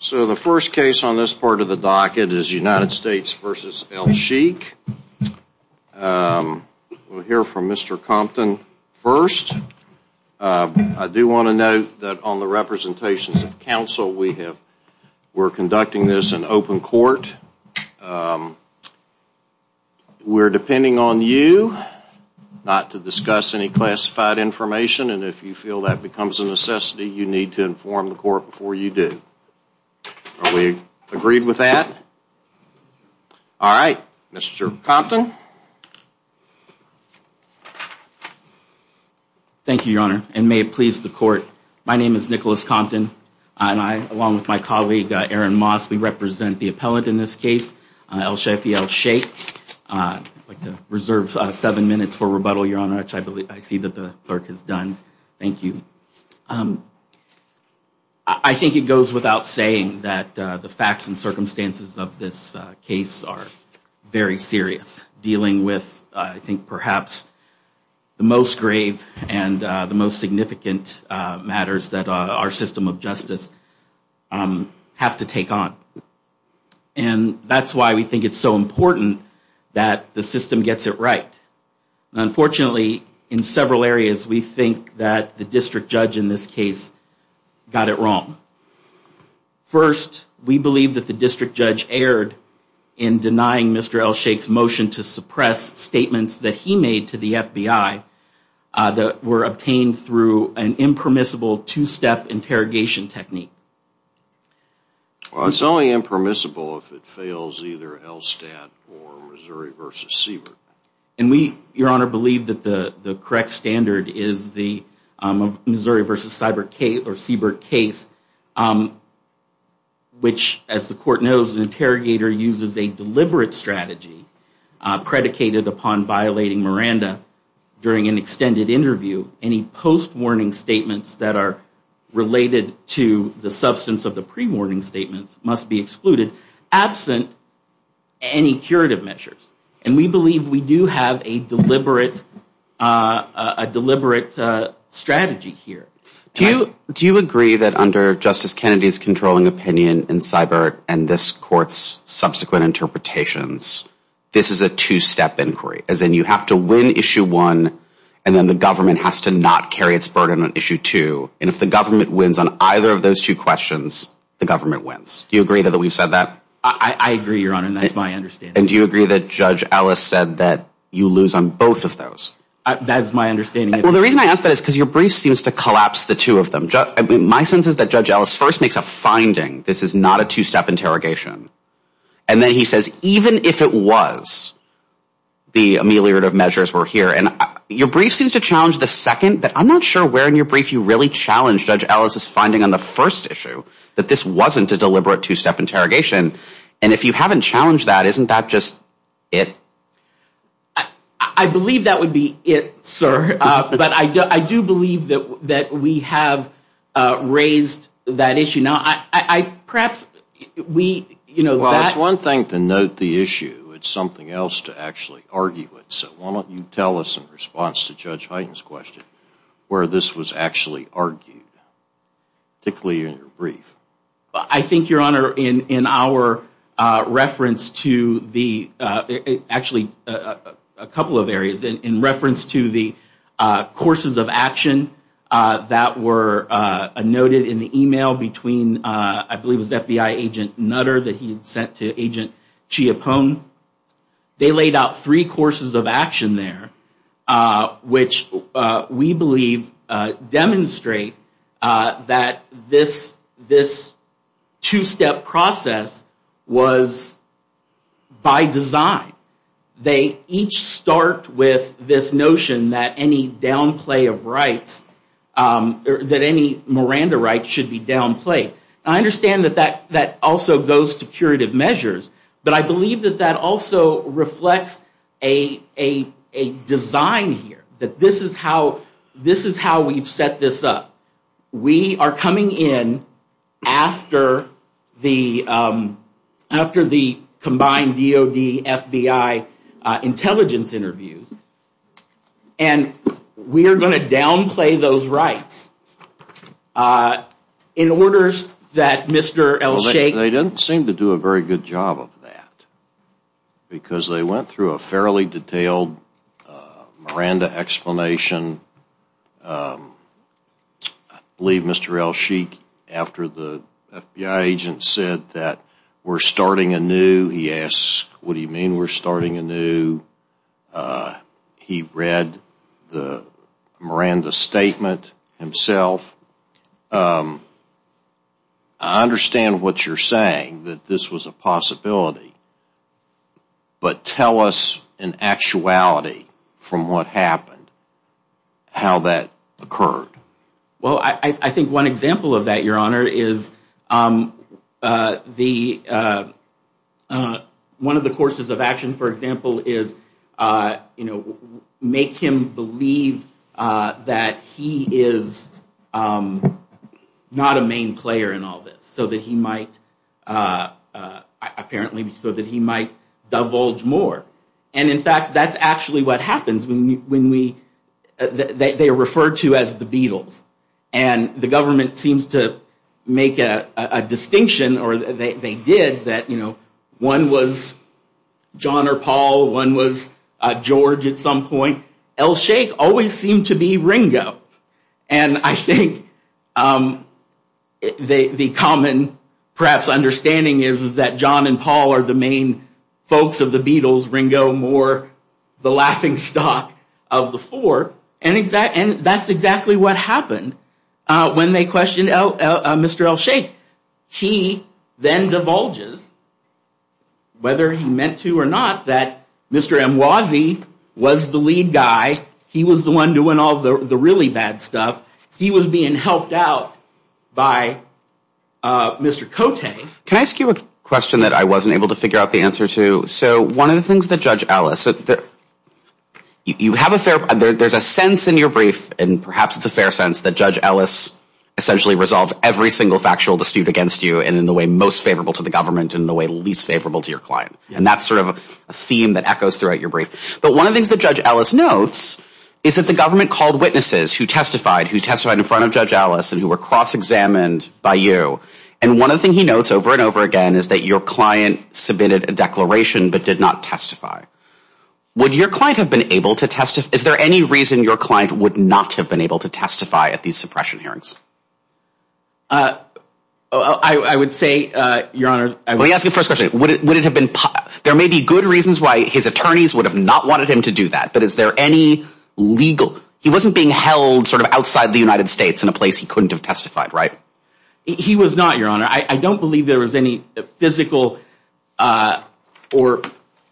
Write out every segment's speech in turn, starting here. So the first case on this part of the docket is United States v. Elsheikh. We'll hear from Mr. Compton first. I do want to note that on the representations of counsel we're conducting this in open court. We're depending on you not to discuss any classified information and if you feel that becomes a necessity you need to inform the court before you do. Are we agreed with that? All right, Mr. Compton. Thank you, Your Honor, and may it please the court, my name is Nicholas Compton and I, along with my colleague Aaron Moss, we represent the appellant in this case, Elsheikh Elsheikh. I'd like to reserve seven minutes for rebuttal, Your Honor, which I see that the clerk has done. Thank you. I think it goes without saying that the facts and circumstances of this case are very serious, dealing with, I think, perhaps the most grave and the most significant matters that our system of justice have to take on. And that's why we think it's so important that the system gets it right. Unfortunately, in several areas we think that the district judge in this case got it wrong. First, we believe that the district judge erred in denying Mr. Elsheikh's motion to suppress statements that he made to the FBI that were obtained through an impermissible two-step interrogation technique. Well, it's only impermissible if it fails either ELSTAT or Missouri v. Siebert. And we, Your Honor, believe that the correct standard is the Missouri v. Siebert case, which, as the court knows, an interrogator uses a deliberate strategy predicated upon violating Miranda during an extended interview, any post-warning statements that are related to the substance of the pre-warning statements must be excluded, absent any curative measures. And we believe we do have a deliberate strategy here. Do you agree that under Justice Kennedy's controlling opinion in Siebert and this court's subsequent interpretations, this is a two-step inquiry, as in you have to win Issue 1 and then the government has to not carry its burden on Issue 2? And if the government wins on either of those two questions, the government wins. Do you agree that we've said that? I agree, Your Honor, and that's my understanding. And do you agree that Judge Ellis said that you lose on both of those? That's my understanding. Well, the reason I ask that is because your brief seems to collapse the two of them. My sense is that Judge Ellis first makes a finding. This is not a two-step interrogation. And then he says, even if it was, the ameliorative measures were here. And your brief seems to challenge the second, but I'm not sure where in your brief you really challenged Judge Ellis' finding on the first issue, that this wasn't a deliberate two-step interrogation. And if you haven't challenged that, isn't that just it? I believe that would be it, sir. But I do believe that we have raised that issue. Well, it's one thing to note the issue. It's something else to actually argue it. So why don't you tell us, in response to Judge Hyten's question, where this was actually argued, particularly in your brief? I think, Your Honor, in our reference to the – actually, a couple of areas. In reference to the courses of action that were noted in the email between, I believe it was FBI Agent Nutter that he had sent to Agent Chiappone, they laid out three courses of action there, which we believe demonstrate that this two-step process was by design. They each start with this notion that any downplay of rights, that any Miranda rights should be downplayed. And I understand that that also goes to curative measures, but I believe that that also reflects a design here, that this is how we've set this up. We are coming in after the combined DOD-FBI intelligence interviews, and we are going to downplay those rights in order that Mr. Elsheikh – Well, they didn't seem to do a very good job of that, because they went through a fairly detailed Miranda explanation. I believe Mr. Elsheikh, after the FBI agent said that we're starting anew, he asked, what do you mean we're starting anew? He read the Miranda statement himself. I understand what you're saying, that this was a possibility, but tell us in actuality from what happened, how that occurred. Well, I think one example of that, Your Honor, is one of the courses of action, for example, is make him believe that he is not a main player in all this, so that he might divulge more. In fact, that's actually what happens when they are referred to as the Beatles, and the government seems to make a distinction, or they did, that one was John or Paul, one was George at some point. Elsheikh always seemed to be Ringo, and I think the common, perhaps, understanding is that John and Paul are the main folks of the Beatles, Ringo more the laughing stock of the four, and that's exactly what happened when they questioned Mr. Elsheikh. He then divulges, whether he meant to or not, that Mr. Amwazi was the lead guy. He was the one doing all the really bad stuff. Can I ask you a question that I wasn't able to figure out the answer to? So one of the things that Judge Ellis, you have a fair, there's a sense in your brief, and perhaps it's a fair sense, that Judge Ellis essentially resolved every single factual dispute against you, and in the way most favorable to the government, and in the way least favorable to your client. And that's sort of a theme that echoes throughout your brief. But one of the things that Judge Ellis notes is that the government called witnesses who testified, who testified in front of Judge Ellis, and who were cross-examined by you, and one of the things he notes over and over again is that your client submitted a declaration but did not testify. Would your client have been able to testify? Is there any reason your client would not have been able to testify at these suppression hearings? I would say, Your Honor, I would... Let me ask you the first question. Would it have been, there may be good reasons why his attorneys would have not wanted him to do that, but is there any legal, he wasn't being held sort of outside the United States in a place he couldn't have testified, right? He was not, Your Honor. I don't believe there was any physical or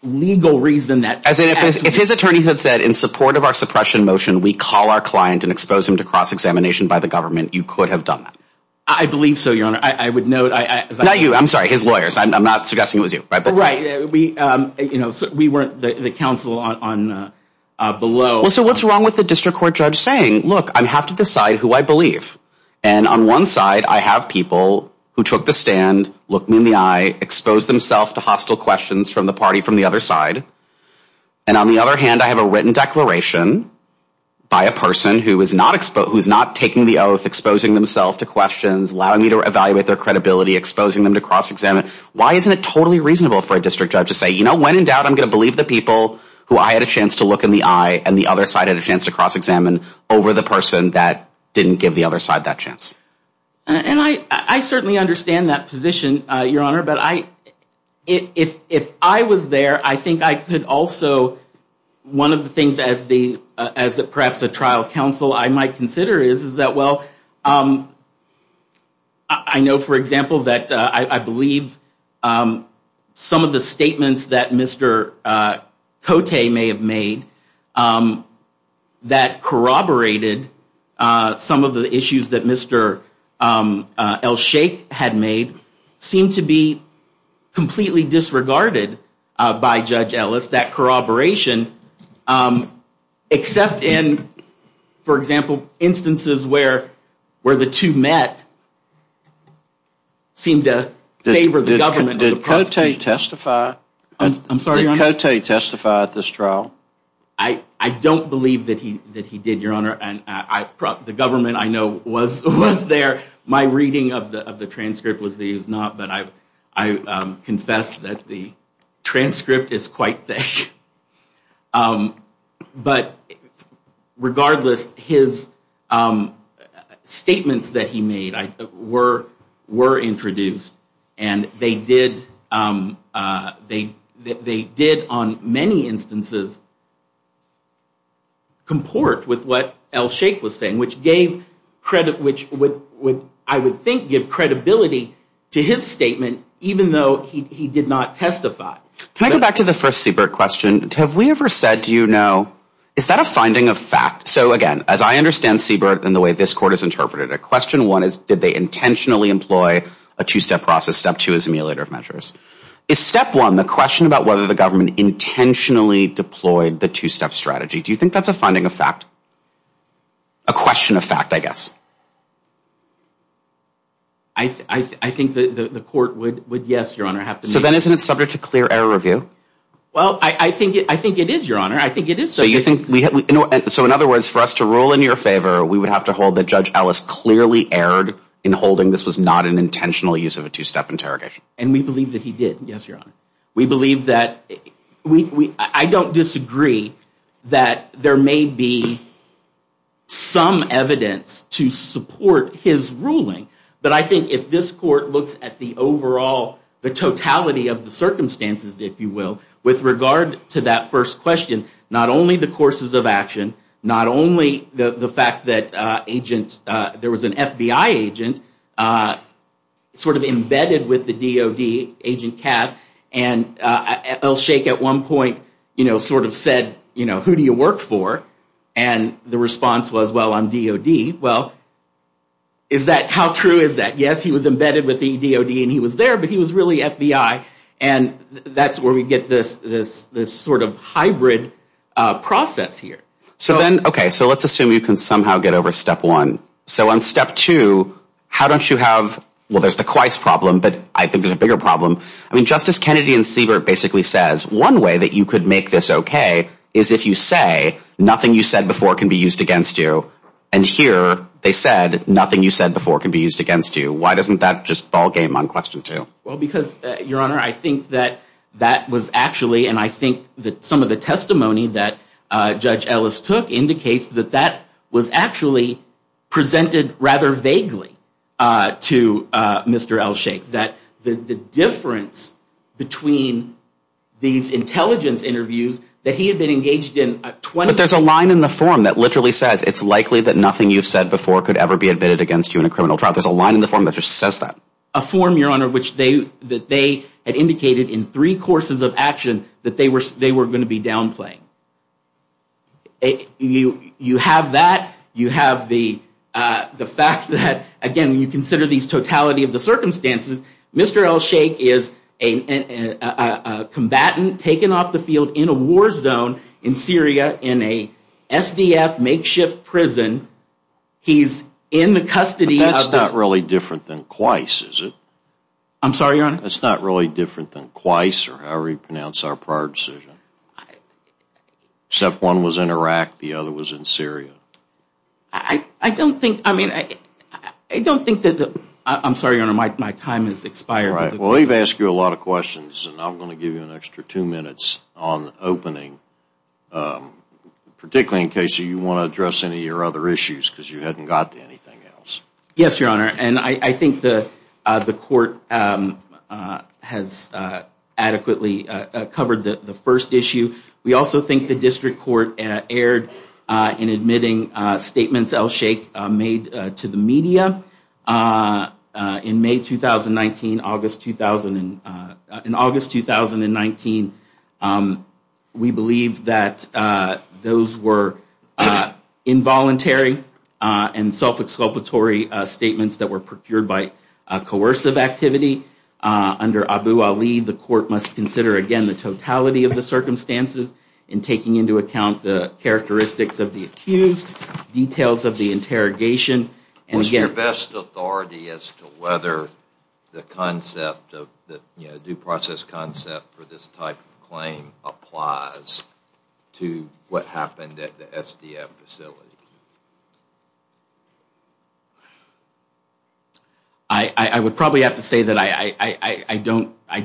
legal reason that... As in, if his attorneys had said, in support of our suppression motion, we call our client and expose him to cross-examination by the government, you could have done that? I believe so, Your Honor. I would note... Not you, I'm sorry, his lawyers. I'm not suggesting it was you. Right. We weren't the counsel below... So what's wrong with the district court judge saying, look, I have to decide who I believe? And on one side, I have people who took the stand, looked me in the eye, exposed themselves to hostile questions from the party from the other side. And on the other hand, I have a written declaration by a person who is not taking the oath, exposing themselves to questions, allowing me to evaluate their credibility, exposing them to cross-examine. Why isn't it totally reasonable for a district judge to say, you know, when in doubt, I'm going to believe the people who I had a chance to look in the eye and the other side had a chance to cross-examine over the person that didn't give the other side that chance? And I certainly understand that position, Your Honor. But if I was there, I think I could also... One of the things as perhaps a trial counsel I might consider is that, well, I know, for example, that I believe some of the statements that Mr. Cote may have made that corroborated some of the issues that Mr. Elsheikh had made seem to be completely disregarded by Judge Ellis. That corroboration, except in, for example, instances where the two met, seemed to favor the government. Did Cote testify? I'm sorry, Your Honor? Did Cote testify at this trial? I don't believe that he did, Your Honor. The government I know was there. My reading of the transcript was that he was not, but I confess that the transcript is quite thick. But regardless, his statements that he made were introduced and they did on many instances comport with what Elsheikh was saying, which would, I would think, give credibility to his statement, even though he did not testify. Can I go back to the first Siebert question? Have we ever said, do you know, is that a finding of fact? So, again, as I understand Siebert and the way this Court has interpreted it, question one is did they intentionally employ a two-step process? Step two is emulator of measures. Is step one the question about whether the government intentionally deployed the two-step strategy? Do you think that's a finding of fact? A question of fact, I guess. I think the Court would, yes, Your Honor. So then isn't it subject to clear error review? Well, I think it is, Your Honor. So in other words, for us to rule in your favor, we would have to hold that Judge Ellis clearly erred in holding this was not an intentional use of a two-step interrogation. And we believe that he did, yes, Your Honor. We believe that, I don't disagree that there may be some evidence to support his ruling. But I think if this Court looks at the overall, the totality of the circumstances, if you will, with regard to that first question, not only the courses of action, not only the fact that there was an FBI agent sort of embedded with the DOD agent, and El Sheikh at one point sort of said, you know, who do you work for? And the response was, well, I'm DOD. Well, is that, how true is that? Yes, he was embedded with the DOD and he was there, but he was really FBI. And that's where we get this sort of hybrid process here. So then, okay, so let's assume you can somehow get over step one. So on step two, how don't you have, well, there's the Quice problem, but I think there's a bigger problem. I mean, Justice Kennedy and Siebert basically says, one way that you could make this okay is if you say, nothing you said before can be used against you. And here they said, nothing you said before can be used against you. Why doesn't that just ballgame on question two? Well, because, Your Honor, I think that that was actually, and I think that some of the testimony that Judge Ellis took indicates that that was actually presented rather vaguely to Mr. Elsheikh, that the difference between these intelligence interviews that he had been engaged in 20 years ago. But there's a line in the form that literally says, it's likely that nothing you've said before could ever be admitted against you in a criminal trial. There's a line in the form that just says that. A form, Your Honor, that they had indicated in three courses of action that they were going to be downplaying. You have that. You have the fact that, again, when you consider these totality of the circumstances, Mr. Elsheikh is a combatant taken off the field in a war zone in Syria in a SDF makeshift prison. He's in the custody of the- But that's not really different than Qais, is it? I'm sorry, Your Honor? That's not really different than Qais or however you pronounce our prior decision. Except one was in Iraq. The other was in Syria. I don't think, I mean, I don't think that- I'm sorry, Your Honor, my time has expired. Well, we've asked you a lot of questions, and I'm going to give you an extra two minutes on the opening, particularly in case you want to address any of your other issues because you hadn't got to anything else. Yes, Your Honor. And I think the court has adequately covered the first issue. We also think the district court erred in admitting statements Elsheikh made to the media. In May 2019, August- In August 2019, we believe that those were involuntary and self-exculpatory statements that were procured by coercive activity. Under Abu Ali, the court must consider, again, the totality of the circumstances and taking into account the characteristics of the accused, details of the interrogation, and again- What's your best authority as to whether the concept of- applies to what happened at the SDM facility? I would probably have to say that I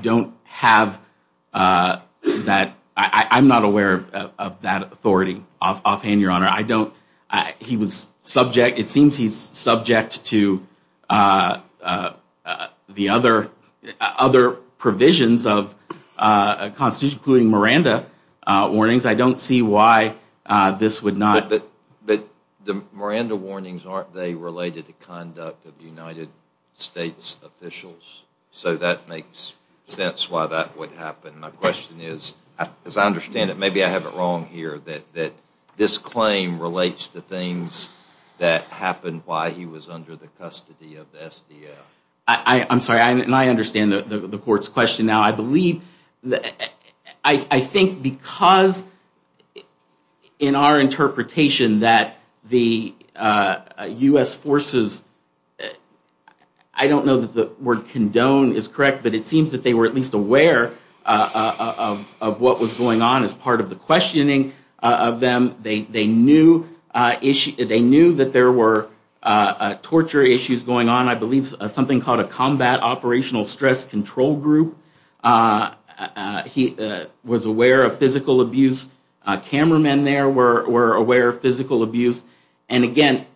don't have that- I'm not aware of that authority offhand, Your Honor. I don't- He was subject- The other provisions of the Constitution, including Miranda warnings, I don't see why this would not- But the Miranda warnings, aren't they related to conduct of United States officials? So that makes sense why that would happen. My question is, as I understand it, maybe I have it wrong here, that this claim relates to things that happened while he was under the custody of the SDM. I'm sorry, and I understand the court's question now. I believe- I think because in our interpretation that the U.S. forces- I don't know that the word condone is correct, but it seems that they were at least aware of what was going on as part of the questioning of them. They knew that there were torture issues going on. I believe something called a Combat Operational Stress Control Group. He was aware of physical abuse. Cameramen there were aware of physical abuse. And again,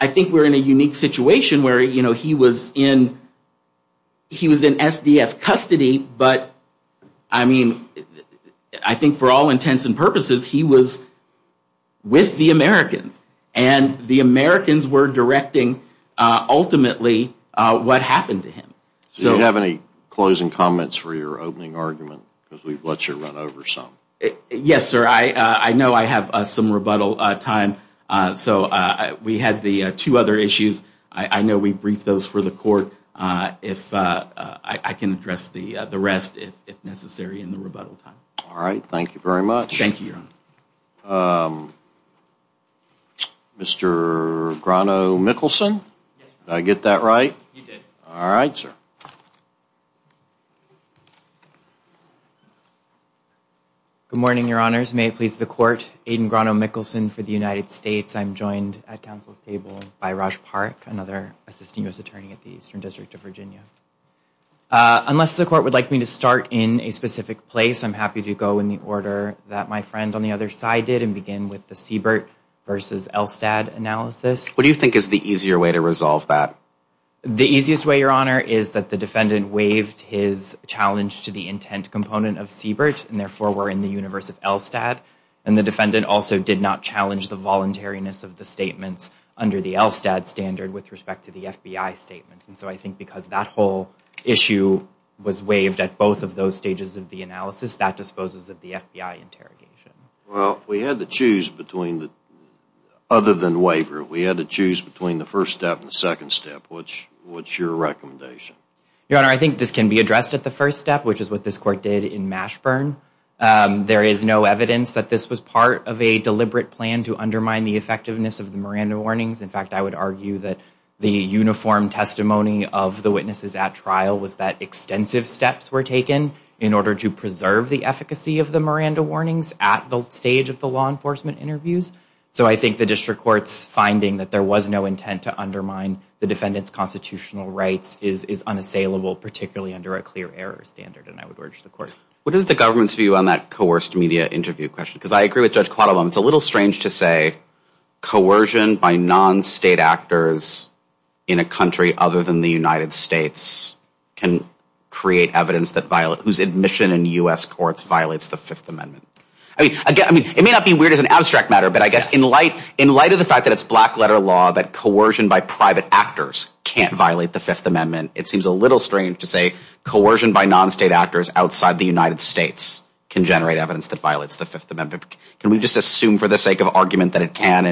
I think we're in a unique situation where he was in SDF custody, but I mean, I think for all intents and purposes, he was with the Americans. And the Americans were directing, ultimately, what happened to him. Do you have any closing comments for your opening argument? Because we've let you run over some. Yes, sir. I know I have some rebuttal time. So we had the two other issues. I know we briefed those for the court. I can address the rest if necessary in the rebuttal time. All right. Thank you very much. Thank you, Your Honor. Mr. Grano-Mikkelson? Did I get that right? You did. All right, sir. Good morning, Your Honors. May it please the court, Aiden Grano-Mikkelson for the United States. I'm joined at counsel's table by Raj Parikh, another Assistant U.S. Attorney at the Eastern District of Virginia. Unless the court would like me to start in a specific place, I'm happy to go in the order that my friend on the other side did and begin with the Siebert versus Elstad analysis. What do you think is the easier way to resolve that? The easiest way, Your Honor, is that the defendant waived his challenge to the intent component of Siebert and, therefore, were in the universe of Elstad. And the defendant also did not challenge the voluntariness of the statements under the Elstad standard with respect to the FBI statement. And so I think because that whole issue was waived at both of those stages of the analysis, that disposes of the FBI interrogation. Well, we had to choose between the other than waiver. We had to choose between the first step and the second step. What's your recommendation? Your Honor, I think this can be addressed at the first step, which is what this court did in Mashburn. There is no evidence that this was part of a deliberate plan to undermine the effectiveness of the Miranda warnings. In fact, I would argue that the uniform testimony of the witnesses at trial was that extensive steps were taken in order to preserve the efficacy of the Miranda warnings at the stage of the law enforcement interviews. So I think the district court's finding that there was no intent to undermine the defendant's constitutional rights is unassailable, particularly under a clear error standard, and I would urge the court. What is the government's view on that coerced media interview question? Because I agree with Judge Quattlebaum, it's a little strange to say coercion by non-state actors in a country other than the United States can create evidence whose admission in U.S. courts violates the Fifth Amendment. It may not be weird as an abstract matter, but I guess in light of the fact that it's black-letter law that coercion by private actors can't violate the Fifth Amendment, it seems a little strange to say coercion by non-state actors outside the United States can generate evidence that violates the Fifth Amendment. Can we just assume for the sake of argument that it can?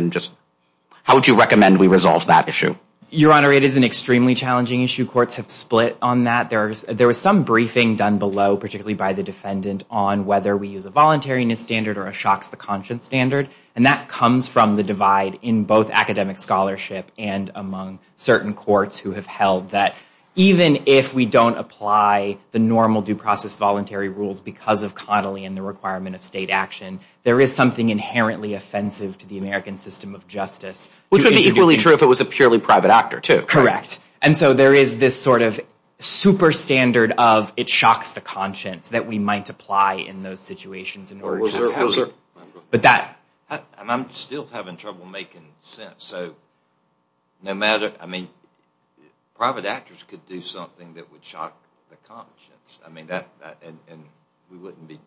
How would you recommend we resolve that issue? Your Honor, it is an extremely challenging issue. Courts have split on that. There was some briefing done below, particularly by the defendant, on whether we use a voluntariness standard or a shocks-the-conscience standard, and that comes from the divide in both academic scholarship and among certain courts who have held that even if we don't apply the normal due process voluntary rules because of Connolly and the requirement of state action, there is something inherently offensive to the American system of justice. Which would be equally true if it was a purely private actor, too. Correct. And so there is this sort of super standard of it shocks the conscience that we might apply in those situations in order to... I'm still having trouble making sense. So private actors could do something that would shock the conscience, and we wouldn't be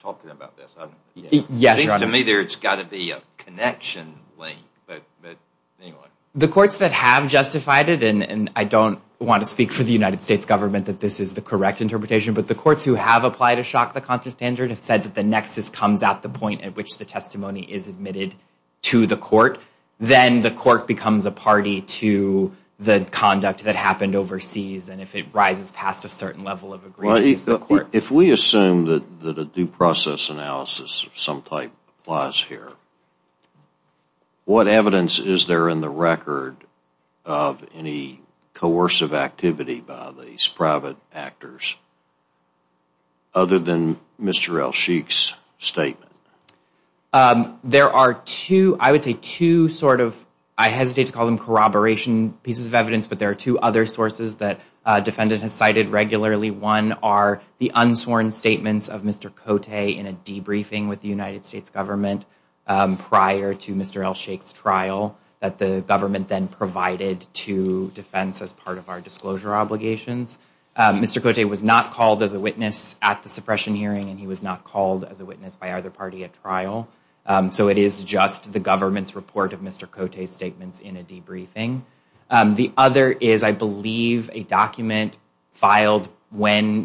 talking about this. Yes, Your Honor. It seems to me there has got to be a connection link. The courts that have justified it, and I don't want to speak for the United States government that this is the correct interpretation, but the courts who have applied a shock-the-conscience standard have said that the nexus comes at the point at which the testimony is admitted to the court. Then the court becomes a party to the conduct that happened overseas, and if it rises past a certain level of agreement, it's the court. If we assume that a due process analysis of some type applies here, what evidence is there in the record of any coercive activity by these private actors other than Mr. El-Sheikh's statement? There are two, I would say two sort of, I hesitate to call them corroboration pieces of evidence, but there are two other sources that a defendant has cited regularly. One are the unsworn statements of Mr. Cote in a debriefing with the United States government prior to Mr. El-Sheikh's trial that the government then provided to defense as part of our disclosure obligations. Mr. Cote was not called as a witness at the suppression hearing, and he was not called as a witness by either party at trial. So it is just the government's report of Mr. Cote's statements in a debriefing. The other is, I believe, a document filed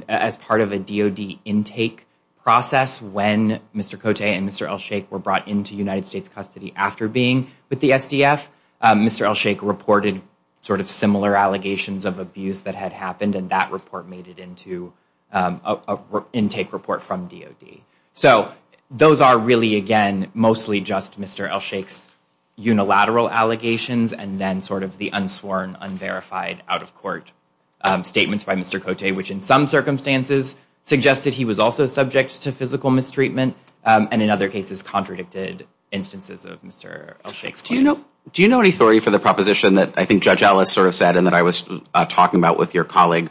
as part of a DOD intake process when Mr. Cote and Mr. El-Sheikh were brought into United States custody after being with the SDF. Mr. El-Sheikh reported sort of similar allegations of abuse that had happened, and that report made it into an intake report from DOD. So those are really, again, mostly just Mr. El-Sheikh's unilateral allegations and then sort of the unsworn, unverified, out-of-court statements by Mr. Cote, which in some circumstances suggested he was also subject to physical mistreatment and in other cases contradicted instances of Mr. El-Sheikh's claims. Do you know any story for the proposition that I think Judge Ellis sort of said and that I was talking about with your colleague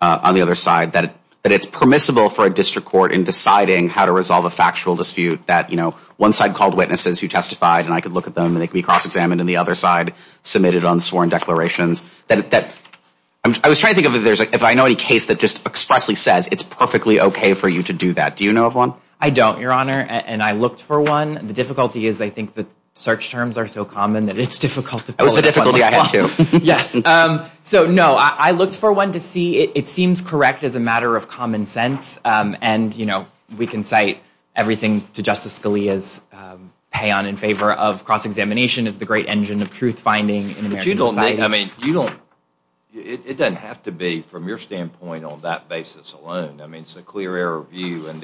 on the other side, that it's permissible for a district court in deciding how to resolve a factual dispute that one side called witnesses who testified, and I could look at them, and they could be cross-examined, and the other side submitted unsworn declarations? I was trying to think if I know any case that just expressly says it's perfectly okay for you to do that. Do you know of one? No, I don't, Your Honor, and I looked for one. The difficulty is I think the search terms are so common that it's difficult to pull it off. That was the difficulty I had, too. Yes. So, no, I looked for one to see. It seems correct as a matter of common sense, and, you know, we can cite everything to Justice Scalia's pay-on in favor of cross-examination as the great engine of truth-finding in American society. But you don't, I mean, you don't, it doesn't have to be from your standpoint on that basis alone. I mean, it's a clear error of view, and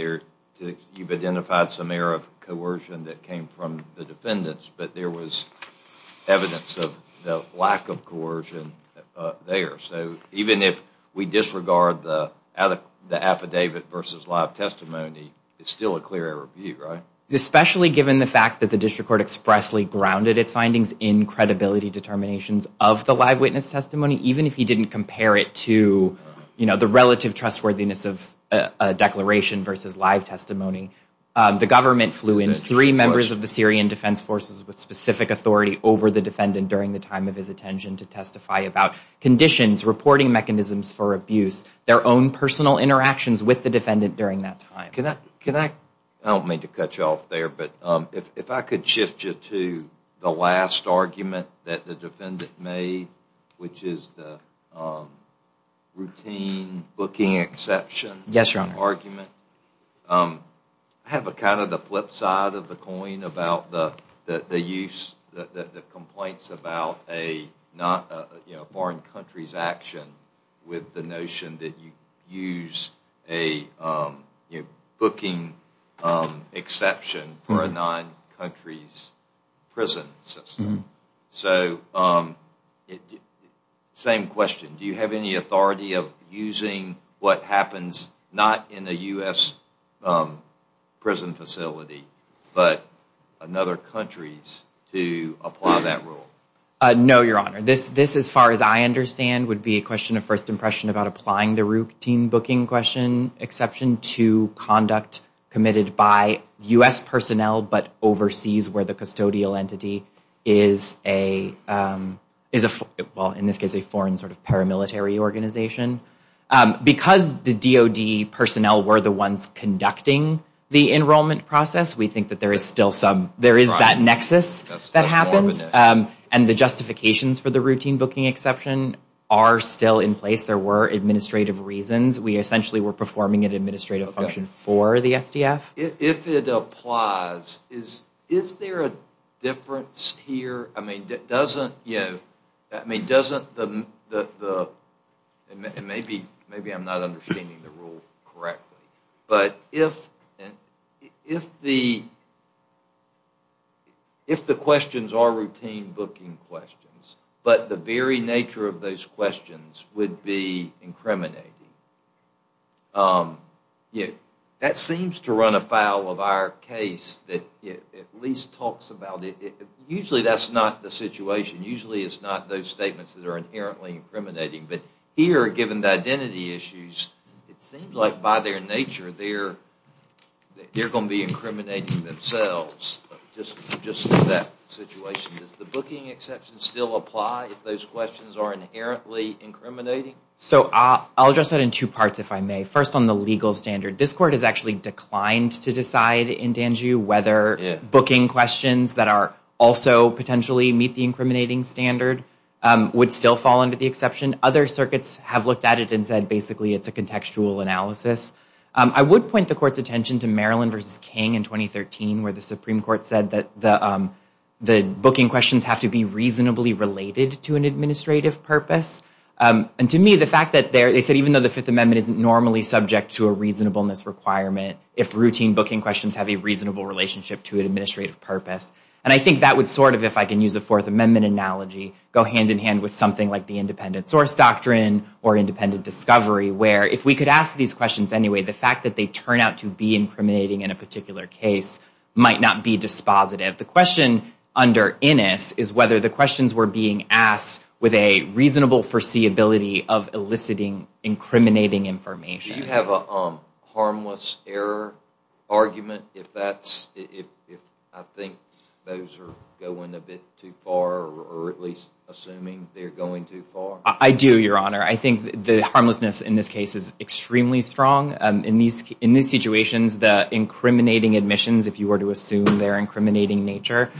you've identified some error of coercion that came from the defendants, but there was evidence of the lack of coercion there. So even if we disregard the affidavit versus live testimony, it's still a clear error of view, right? Especially given the fact that the district court expressly grounded its findings in credibility determinations of the live witness testimony, even if you didn't compare it to, you know, the relative trustworthiness of a declaration versus live testimony. The government flew in three members of the Syrian Defense Forces with specific authority over the defendant during the time of his attention to testify about conditions, reporting mechanisms for abuse, their own personal interactions with the defendant during that time. Can I, I don't mean to cut you off there, but if I could shift you to the last argument that the defendant made, which is the routine booking exception argument. Yes, Your Honor. I have kind of the flip side of the coin about the use, the complaints about a not, you know, a foreign country's action with the notion that you used a, you know, So, same question. Do you have any authority of using what happens not in a U.S. prison facility but in other countries to apply that rule? No, Your Honor. This, as far as I understand, would be a question of first impression about applying the routine booking question exception to conduct committed by U.S. personnel but overseas where the custodial entity is a, well, in this case, a foreign sort of paramilitary organization. Because the DOD personnel were the ones conducting the enrollment process, we think that there is still some, there is that nexus that happens. And the justifications for the routine booking exception are still in place. There were administrative reasons. We essentially were performing an administrative function for the SDF. If it applies, is there a difference here? I mean, doesn't, you know, I mean, doesn't the, and maybe I'm not understanding the rule correctly, but if the questions are routine booking questions, but the very nature of those questions would be incriminating, you know, that seems to run afoul of our case that it at least talks about it. Usually that's not the situation. Usually it's not those statements that are inherently incriminating. But here, given the identity issues, it seems like by their nature, they're going to be incriminating themselves just in that situation. Does the booking exception still apply if those questions are inherently incriminating? So I'll address that in two parts, if I may. First on the legal standard. This court has actually declined to decide in Danjiu whether booking questions that are also potentially meet the incriminating standard would still fall under the exception. Other circuits have looked at it and said basically it's a contextual analysis. I would point the court's attention to Maryland v. King in 2013, where the Supreme Court said that the booking questions have to be reasonably related to an administrative purpose. And to me, the fact that they said even though the Fifth Amendment isn't normally subject to a reasonableness requirement, if routine booking questions have a reasonable relationship to an administrative purpose, and I think that would sort of, if I can use a Fourth Amendment analogy, go hand in hand with something like the independent source doctrine or independent discovery, where if we could ask these questions anyway, the fact that they turn out to be incriminating in a particular case might not be dispositive. The question under Innis is whether the questions were being asked with a reasonable foreseeability of eliciting incriminating information. Do you have a harmless error argument if that's, if I think those are going a bit too far or at least assuming they're going too far? I do, Your Honor. I think the harmlessness in this case is extremely strong. In these situations, the incriminating admissions, if you were to assume their incriminating nature,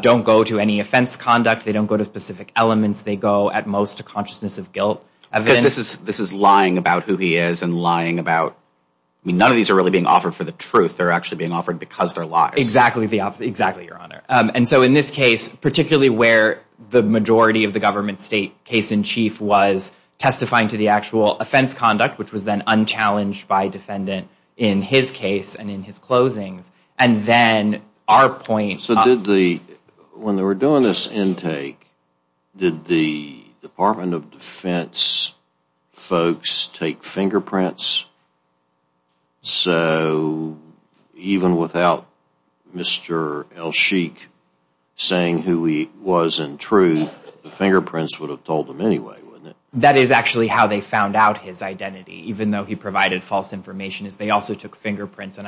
don't go to any offense conduct. They don't go to specific elements. They go, at most, to consciousness of guilt. Because this is lying about who he is and lying about, I mean, none of these are really being offered for the truth. They're actually being offered because they're lies. Exactly, Your Honor, and so in this case, particularly where the majority of the government state case in chief was testifying to the actual offense conduct, which was then unchallenged by defendant in his case and in his closings, and then our point. So did the, when they were doing this intake, did the Department of Defense folks take fingerprints? So even without Mr. Elchik saying who he was in truth, the fingerprints would have told them anyway, wouldn't it? That is actually how they found out his identity, even though he provided false information, is they also took fingerprints. And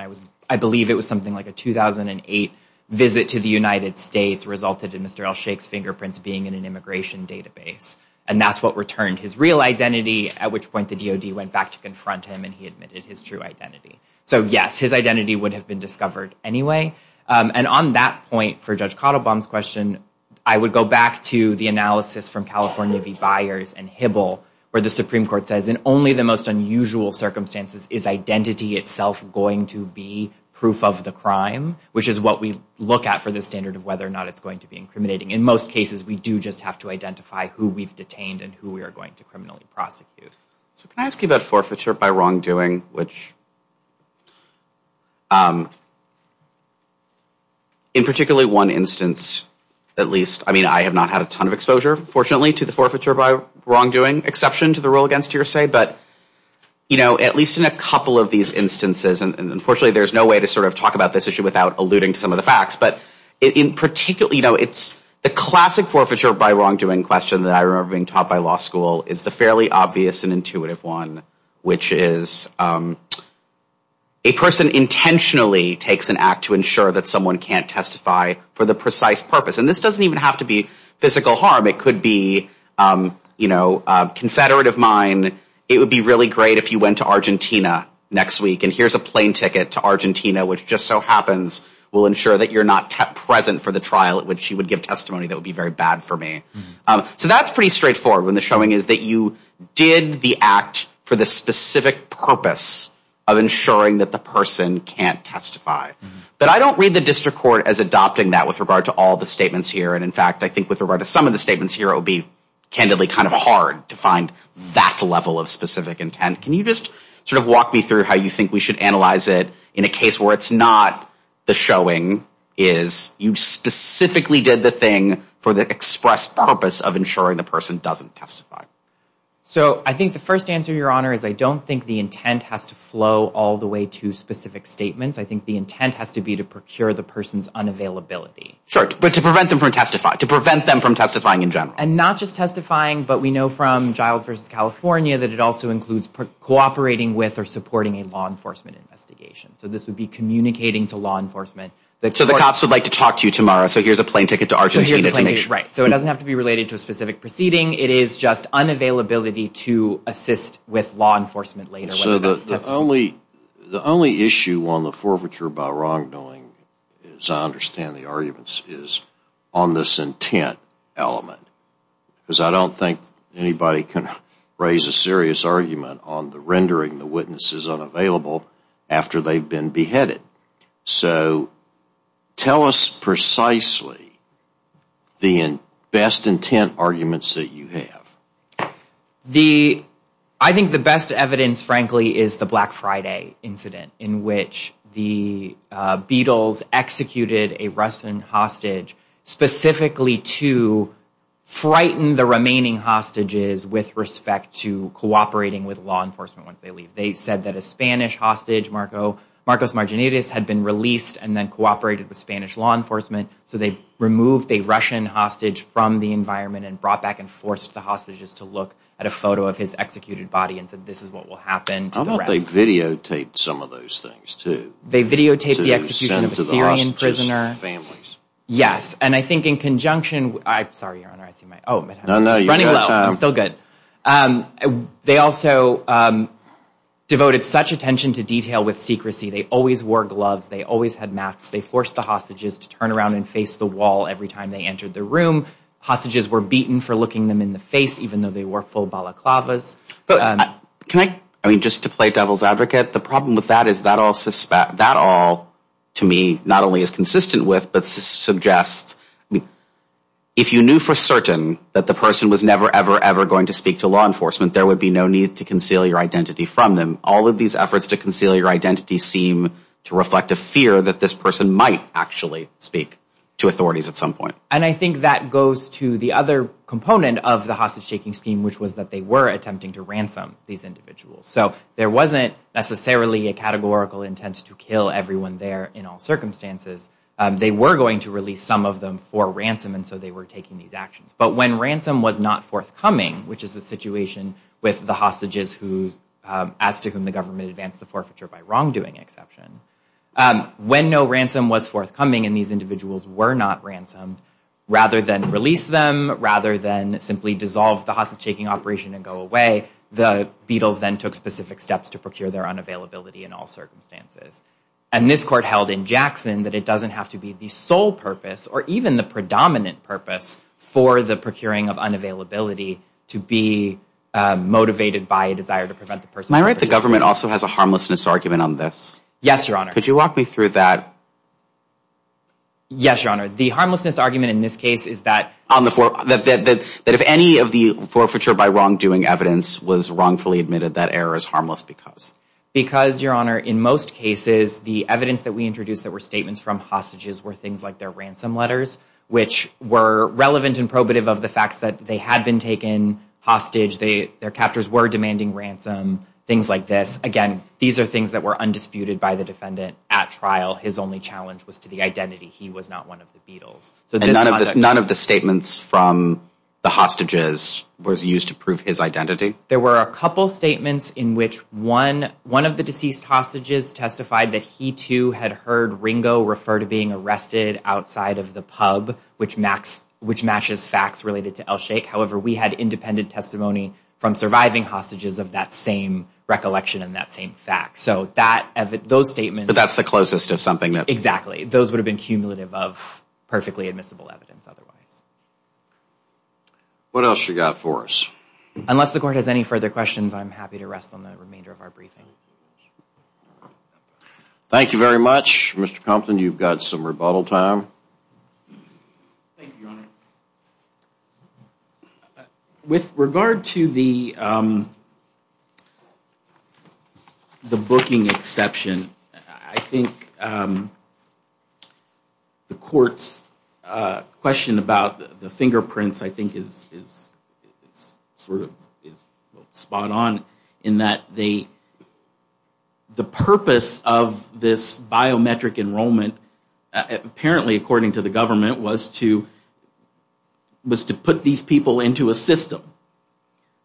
I believe it was something like a 2008 visit to the United States resulted in Mr. Elchik's fingerprints being in an immigration database. And that's what returned his real identity, at which point the DOD went back to confront him and he admitted his true identity. So yes, his identity would have been discovered anyway. And on that point, for Judge Cottlebaum's question, I would go back to the analysis from California v. Byers and Hibble, where the Supreme Court says, in only the most unusual circumstances is identity itself going to be proof of the crime, which is what we look at for the standard of whether or not it's going to be incriminating. In most cases, we do just have to identify who we've detained and who we are going to criminally prosecute. So can I ask you about forfeiture by wrongdoing, which in particularly one instance, at least, I mean, I have not had a ton of exposure, fortunately, to the forfeiture by wrongdoing exception to the rule against hearsay. But, you know, at least in a couple of these instances, and unfortunately there's no way to sort of talk about this issue without alluding to some of the facts, but in particular, you know, it's the classic forfeiture by wrongdoing question that I remember being taught by law school is the fairly obvious and intuitive one, which is a person intentionally takes an act to ensure that someone can't testify for the precise purpose. And this doesn't even have to be physical harm. It could be, you know, confederate of mine. It would be really great if you went to Argentina next week, and here's a plane ticket to Argentina, which just so happens will ensure that you're not present for the trial at which you would give testimony that would be very bad for me. So that's pretty straightforward when the showing is that you did the act for the specific purpose of ensuring that the person can't testify. But I don't read the district court as adopting that with regard to all the statements here. And, in fact, I think with regard to some of the statements here, it would be candidly kind of hard to find that level of specific intent. Can you just sort of walk me through how you think we should analyze it in a case where it's not the showing is you specifically did the thing for the express purpose of ensuring the person doesn't testify? So I think the first answer, Your Honor, is I don't think the intent has to flow all the way to specific statements. I think the intent has to be to procure the person's unavailability. Sure, but to prevent them from testifying, to prevent them from testifying in general. And not just testifying, but we know from Giles v. California that it also includes cooperating with or supporting a law enforcement investigation. So this would be communicating to law enforcement. So the cops would like to talk to you tomorrow, so here's a plane ticket to Argentina to make sure. Right, so it doesn't have to be related to a specific proceeding. It is just unavailability to assist with law enforcement later. So the only issue on the forfeiture by wrongdoing, as I understand the arguments, is on this intent element. Because I don't think anybody can raise a serious argument on the rendering the witnesses unavailable after they've been beheaded. So tell us precisely the best intent arguments that you have. I think the best evidence, frankly, is the Black Friday incident in which the Beatles executed a Russian hostage specifically to frighten the remaining hostages with respect to cooperating with law enforcement once they leave. They said that a Spanish hostage, Marcos Marginitis, had been released and then cooperated with Spanish law enforcement. So they removed a Russian hostage from the environment and brought back and forced the hostages to look at a photo of his executed body and said this is what will happen to the rest. And they videotaped some of those things, too. They videotaped the execution of a Syrian prisoner. Yes, and I think in conjunction, I'm sorry, Your Honor. Running low. I'm still good. They also devoted such attention to detail with secrecy. They always wore gloves. They always had masks. They forced the hostages to turn around and face the wall every time they entered the room. Hostages were beaten for looking them in the face even though they wore full balaclavas. Can I, I mean, just to play devil's advocate, the problem with that is that all to me not only is consistent with but suggests if you knew for certain that the person was never, ever, ever going to speak to law enforcement, there would be no need to conceal your identity from them. All of these efforts to conceal your identity seem to reflect a fear that this person might actually speak to authorities at some point. And I think that goes to the other component of the hostage-taking scheme which was that they were attempting to ransom these individuals. So there wasn't necessarily a categorical intent to kill everyone there in all circumstances. They were going to release some of them for ransom and so they were taking these actions. But when ransom was not forthcoming, which is the situation with the hostages as to whom the government advanced the forfeiture by wrongdoing exception, when no ransom was forthcoming and these individuals were not ransomed, rather than release them, rather than simply dissolve the hostage-taking operation and go away, the Beatles then took specific steps to procure their unavailability in all circumstances. And this court held in Jackson that it doesn't have to be the sole purpose or even the predominant purpose for the procuring of unavailability to be motivated by a desire to prevent the person from... Am I right that the government also has a harmlessness argument on this? Yes, Your Honor. Could you walk me through that? Yes, Your Honor. The harmlessness argument in this case is that... That if any of the forfeiture by wrongdoing evidence was wrongfully admitted, that error is harmless because... Because, Your Honor, in most cases, the evidence that we introduced that were statements from hostages were things like their ransom letters, which were relevant and probative of the fact that they had been taken hostage, their captors were demanding ransom, things like this. Again, these are things that were undisputed by the defendant at trial. His only challenge was to the identity. He was not one of the Beatles. And none of the statements from the hostages was used to prove his identity? There were a couple statements in which one of the deceased hostages testified that he too had heard Ringo refer to being arrested outside of the pub, which matches facts related to El Sheikh. However, we had independent testimony from surviving hostages of that same recollection and that same fact. So those statements... But that's the closest of something that... Exactly. Those would have been cumulative of perfectly admissible evidence otherwise. What else you got for us? Unless the court has any further questions, I'm happy to rest on the remainder of our briefing. Thank you very much, Mr. Compton. You've got some rebuttal time. Thank you, Your Honor. With regard to the booking exception, I think the court's question about the fingerprints I think is sort of spot on in that the purpose of this biometric enrollment, apparently according to the government, was to put these people into a system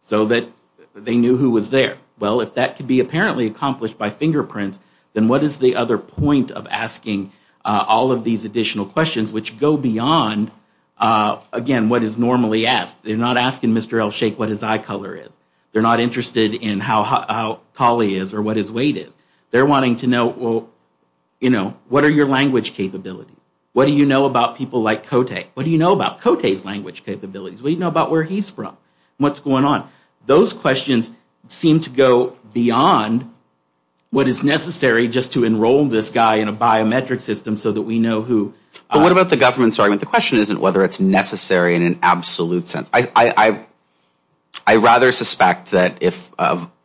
so that they knew who was there. Well, if that could be apparently accomplished by fingerprints, then what is the other point of asking all of these additional questions which go beyond, again, what is normally asked? They're not asking Mr. El Sheikh what his eye color is. They're not interested in how tall he is or what his weight is. They're wanting to know, well, you know, what are your language capabilities? What do you know about people like Kote? What do you know about Kote's language capabilities? What do you know about where he's from and what's going on? Those questions seem to go beyond what is necessary just to enroll this guy in a biometric system so that we know who. But what about the government's argument? The question isn't whether it's necessary in an absolute sense. I rather suspect that if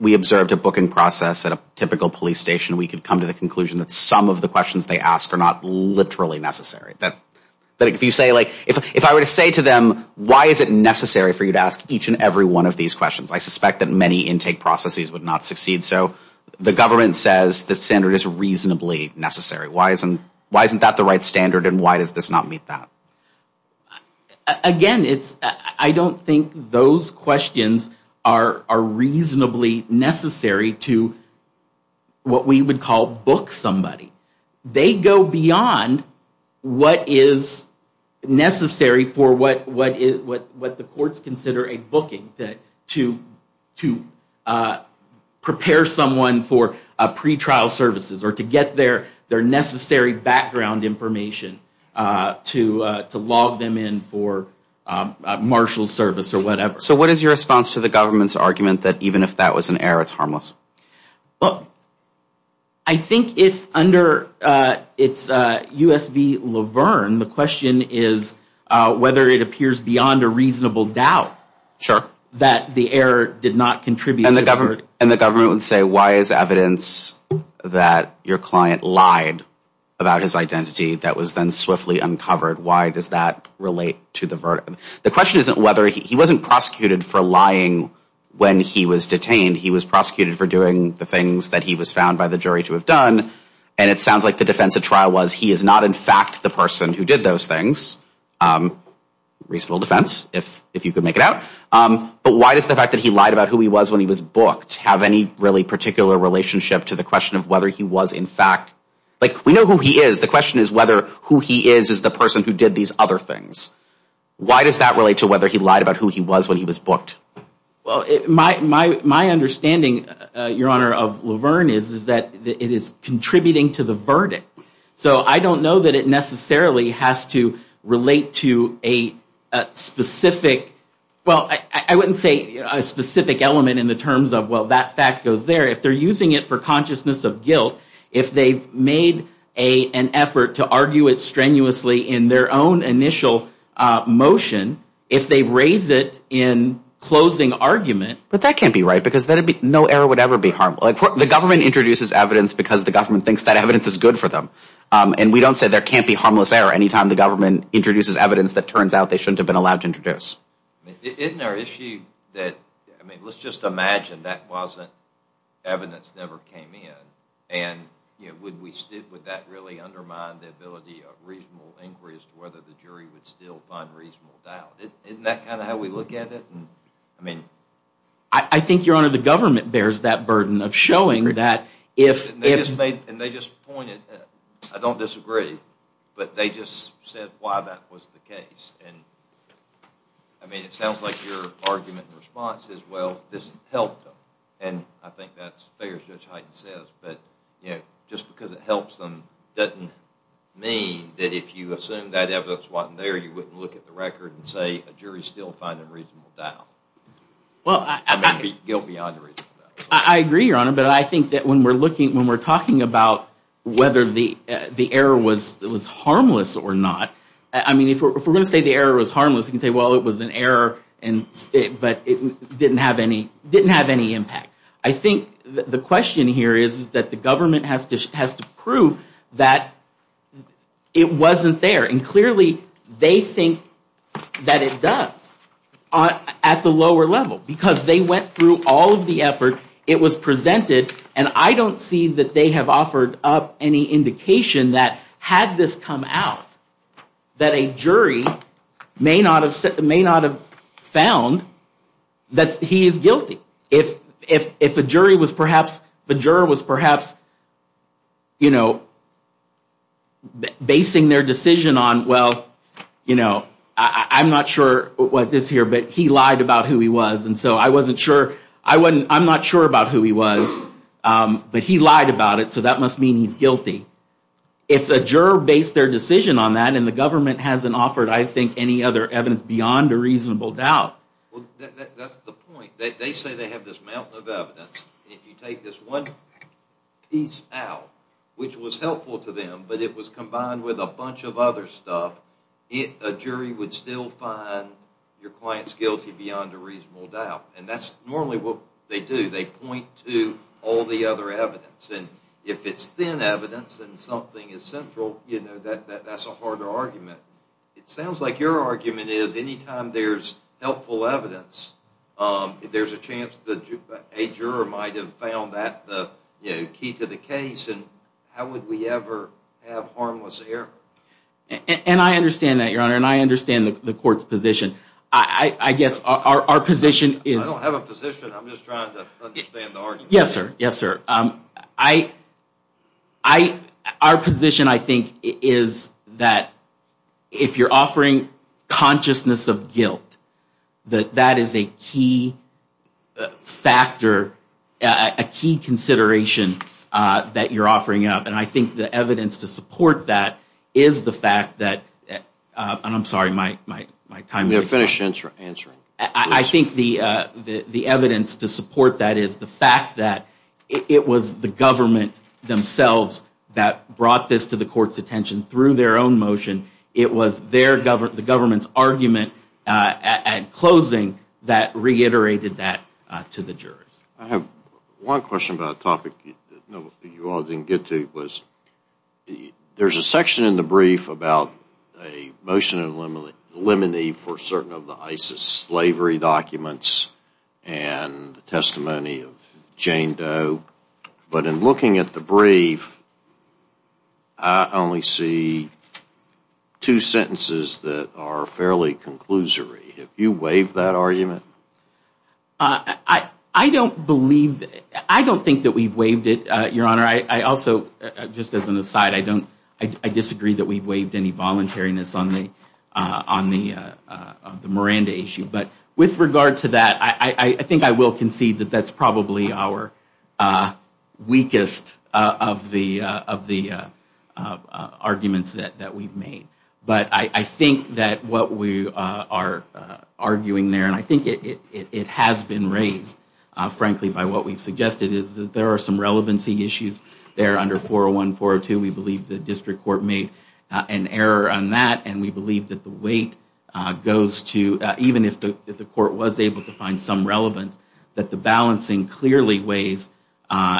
we observed a booking process at a typical police station, we could come to the conclusion that some of the questions they ask are not literally necessary. That if you say, like, if I were to say to them, why is it necessary for you to ask each and every one of these questions? I suspect that many intake processes would not succeed. So the government says the standard is reasonably necessary. Why isn't that the right standard and why does this not meet that? Again, I don't think those questions are reasonably necessary to what we would call book somebody. They go beyond what is necessary for what the courts consider a booking to prepare someone for pretrial services or to get their necessary background information to log them in for a marshal service or whatever. So what is your response to the government's argument that even if that was an error, it's harmless? Well, I think it's under USB Laverne. The question is whether it appears beyond a reasonable doubt that the error did not contribute to the verdict. And the government would say why is evidence that your client lied about his identity that was then swiftly uncovered, why does that relate to the verdict? The question isn't whether he wasn't prosecuted for lying when he was detained. He was prosecuted for doing the things that he was found by the jury to have done. And it sounds like the defense at trial was he is not in fact the person who did those things. Reasonable defense, if you could make it out. But why does the fact that he lied about who he was when he was booked have any really particular relationship to the question of whether he was in fact like we know who he is, the question is whether who he is is the person who did these other things. Why does that relate to whether he lied about who he was when he was booked? Well, my understanding, Your Honor of Laverne, is that it is contributing to the verdict. So I don't know that it necessarily has to relate to a specific, well, I wouldn't say a specific element in the terms of well, that fact goes there. If they're using it for consciousness of guilt, if they've made an effort to argue it strenuously in their own initial motion, if they raise it in closing argument. But that can't be right because no error would ever be harmful. The government introduces evidence because the government thinks that evidence is good for them. And we don't say there can't be harmless error any time the government Isn't there an issue that, I mean, let's just imagine that wasn't, evidence never came in. And would that really undermine the ability of reasonable inquiry as to whether the jury would still find reasonable doubt? Isn't that kind of how we look at it? I think, Your Honor, the government bears that burden of showing that if... And they just pointed, I don't disagree, but they just said why that was the case. And, I mean, it sounds like your argument and response is, well, this helped them. And I think that's fair, as Judge Hyten says, but just because it helps them doesn't mean that if you assume that evidence wasn't there, you wouldn't look at the record and say a jury's still finding reasonable doubt. Well, I... I mean, guilt beyond reasonable doubt. I agree, Your Honor, but I think that when we're looking, about whether the error was harmless or not, I mean, if we're going to say the error was harmless, we can say, well, it was an error, but it didn't have any impact. I think the question here is that the government has to prove that it wasn't there. And, clearly, they think that it does at the lower level because they went through all of the effort. It was presented, and I don't see that they have offered up any indication that had this come out, that a jury may not have found that he is guilty. If a jury was perhaps, a juror was perhaps, you know, basing their decision on, well, you know, I'm not sure what this here, but he lied about who he was, and so I wasn't sure, I'm not sure about who he was, but he lied about it, so that must mean he's guilty. If a juror based their decision on that, and the government hasn't offered, I think, any other evidence beyond a reasonable doubt... Well, that's the point. They say they have this mountain of evidence. If you take this one piece out, which was helpful to them, but it was combined with a bunch of other stuff, a jury would still find your client's guilty beyond a reasonable doubt, and that's normally what they do. They point to all the other evidence, and if it's thin evidence, and something is central, you know, that's a harder argument. It sounds like your argument is anytime there's helpful evidence, there's a chance that a juror might have found that the key to the case, and how would we ever have harmless error? And I understand that, Your Honor, and I understand the court's position. I guess our position is... I don't have a position, I'm just trying to understand the argument. Yes, sir, yes, sir. Our position, I think, is that if you're offering consciousness of guilt, that that is a key factor, a key consideration that you're offering up, and I think the evidence to support that is the fact that... I'm sorry, my time is up. Finish answering. I think the evidence to support that is the fact that it was the government themselves that brought this to the court's attention through their own motion. It was the government's argument at closing that reiterated that to the jurors. I have one question about a topic that you all didn't get to. There's a section in the brief about a motion of limine for certain of the ISIS slavery documents and the testimony of Jane Doe, but in looking at the brief, I only see two sentences that are fairly conclusory. Have you waived that argument? I don't believe, I don't think that we've waived it, Your Honor. I also, just as an aside, I disagree that we've waived any voluntariness on the Miranda issue. But with regard to that, I think I will concede that that's probably our weakest of the arguments that we've made. But I think that what we are arguing there, and I think it has been raised, frankly, by what we've suggested, is that there are some relevancy issues there under 401, 402. We believe the district court made an error on that, and we believe that the weight goes to, even if the court was able to find some relevance, that the balancing clearly weighs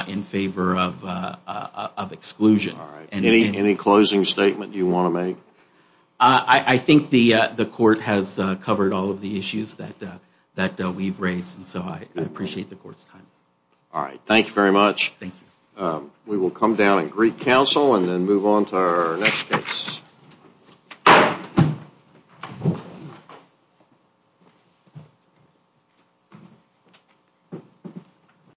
in favor of exclusion. All right. Any closing statement you want to make? I think the court has covered all of the issues that we've raised, and so I appreciate the court's time. All right. Thank you very much. Thank you. We will come down and greet counsel and then move on to our next case.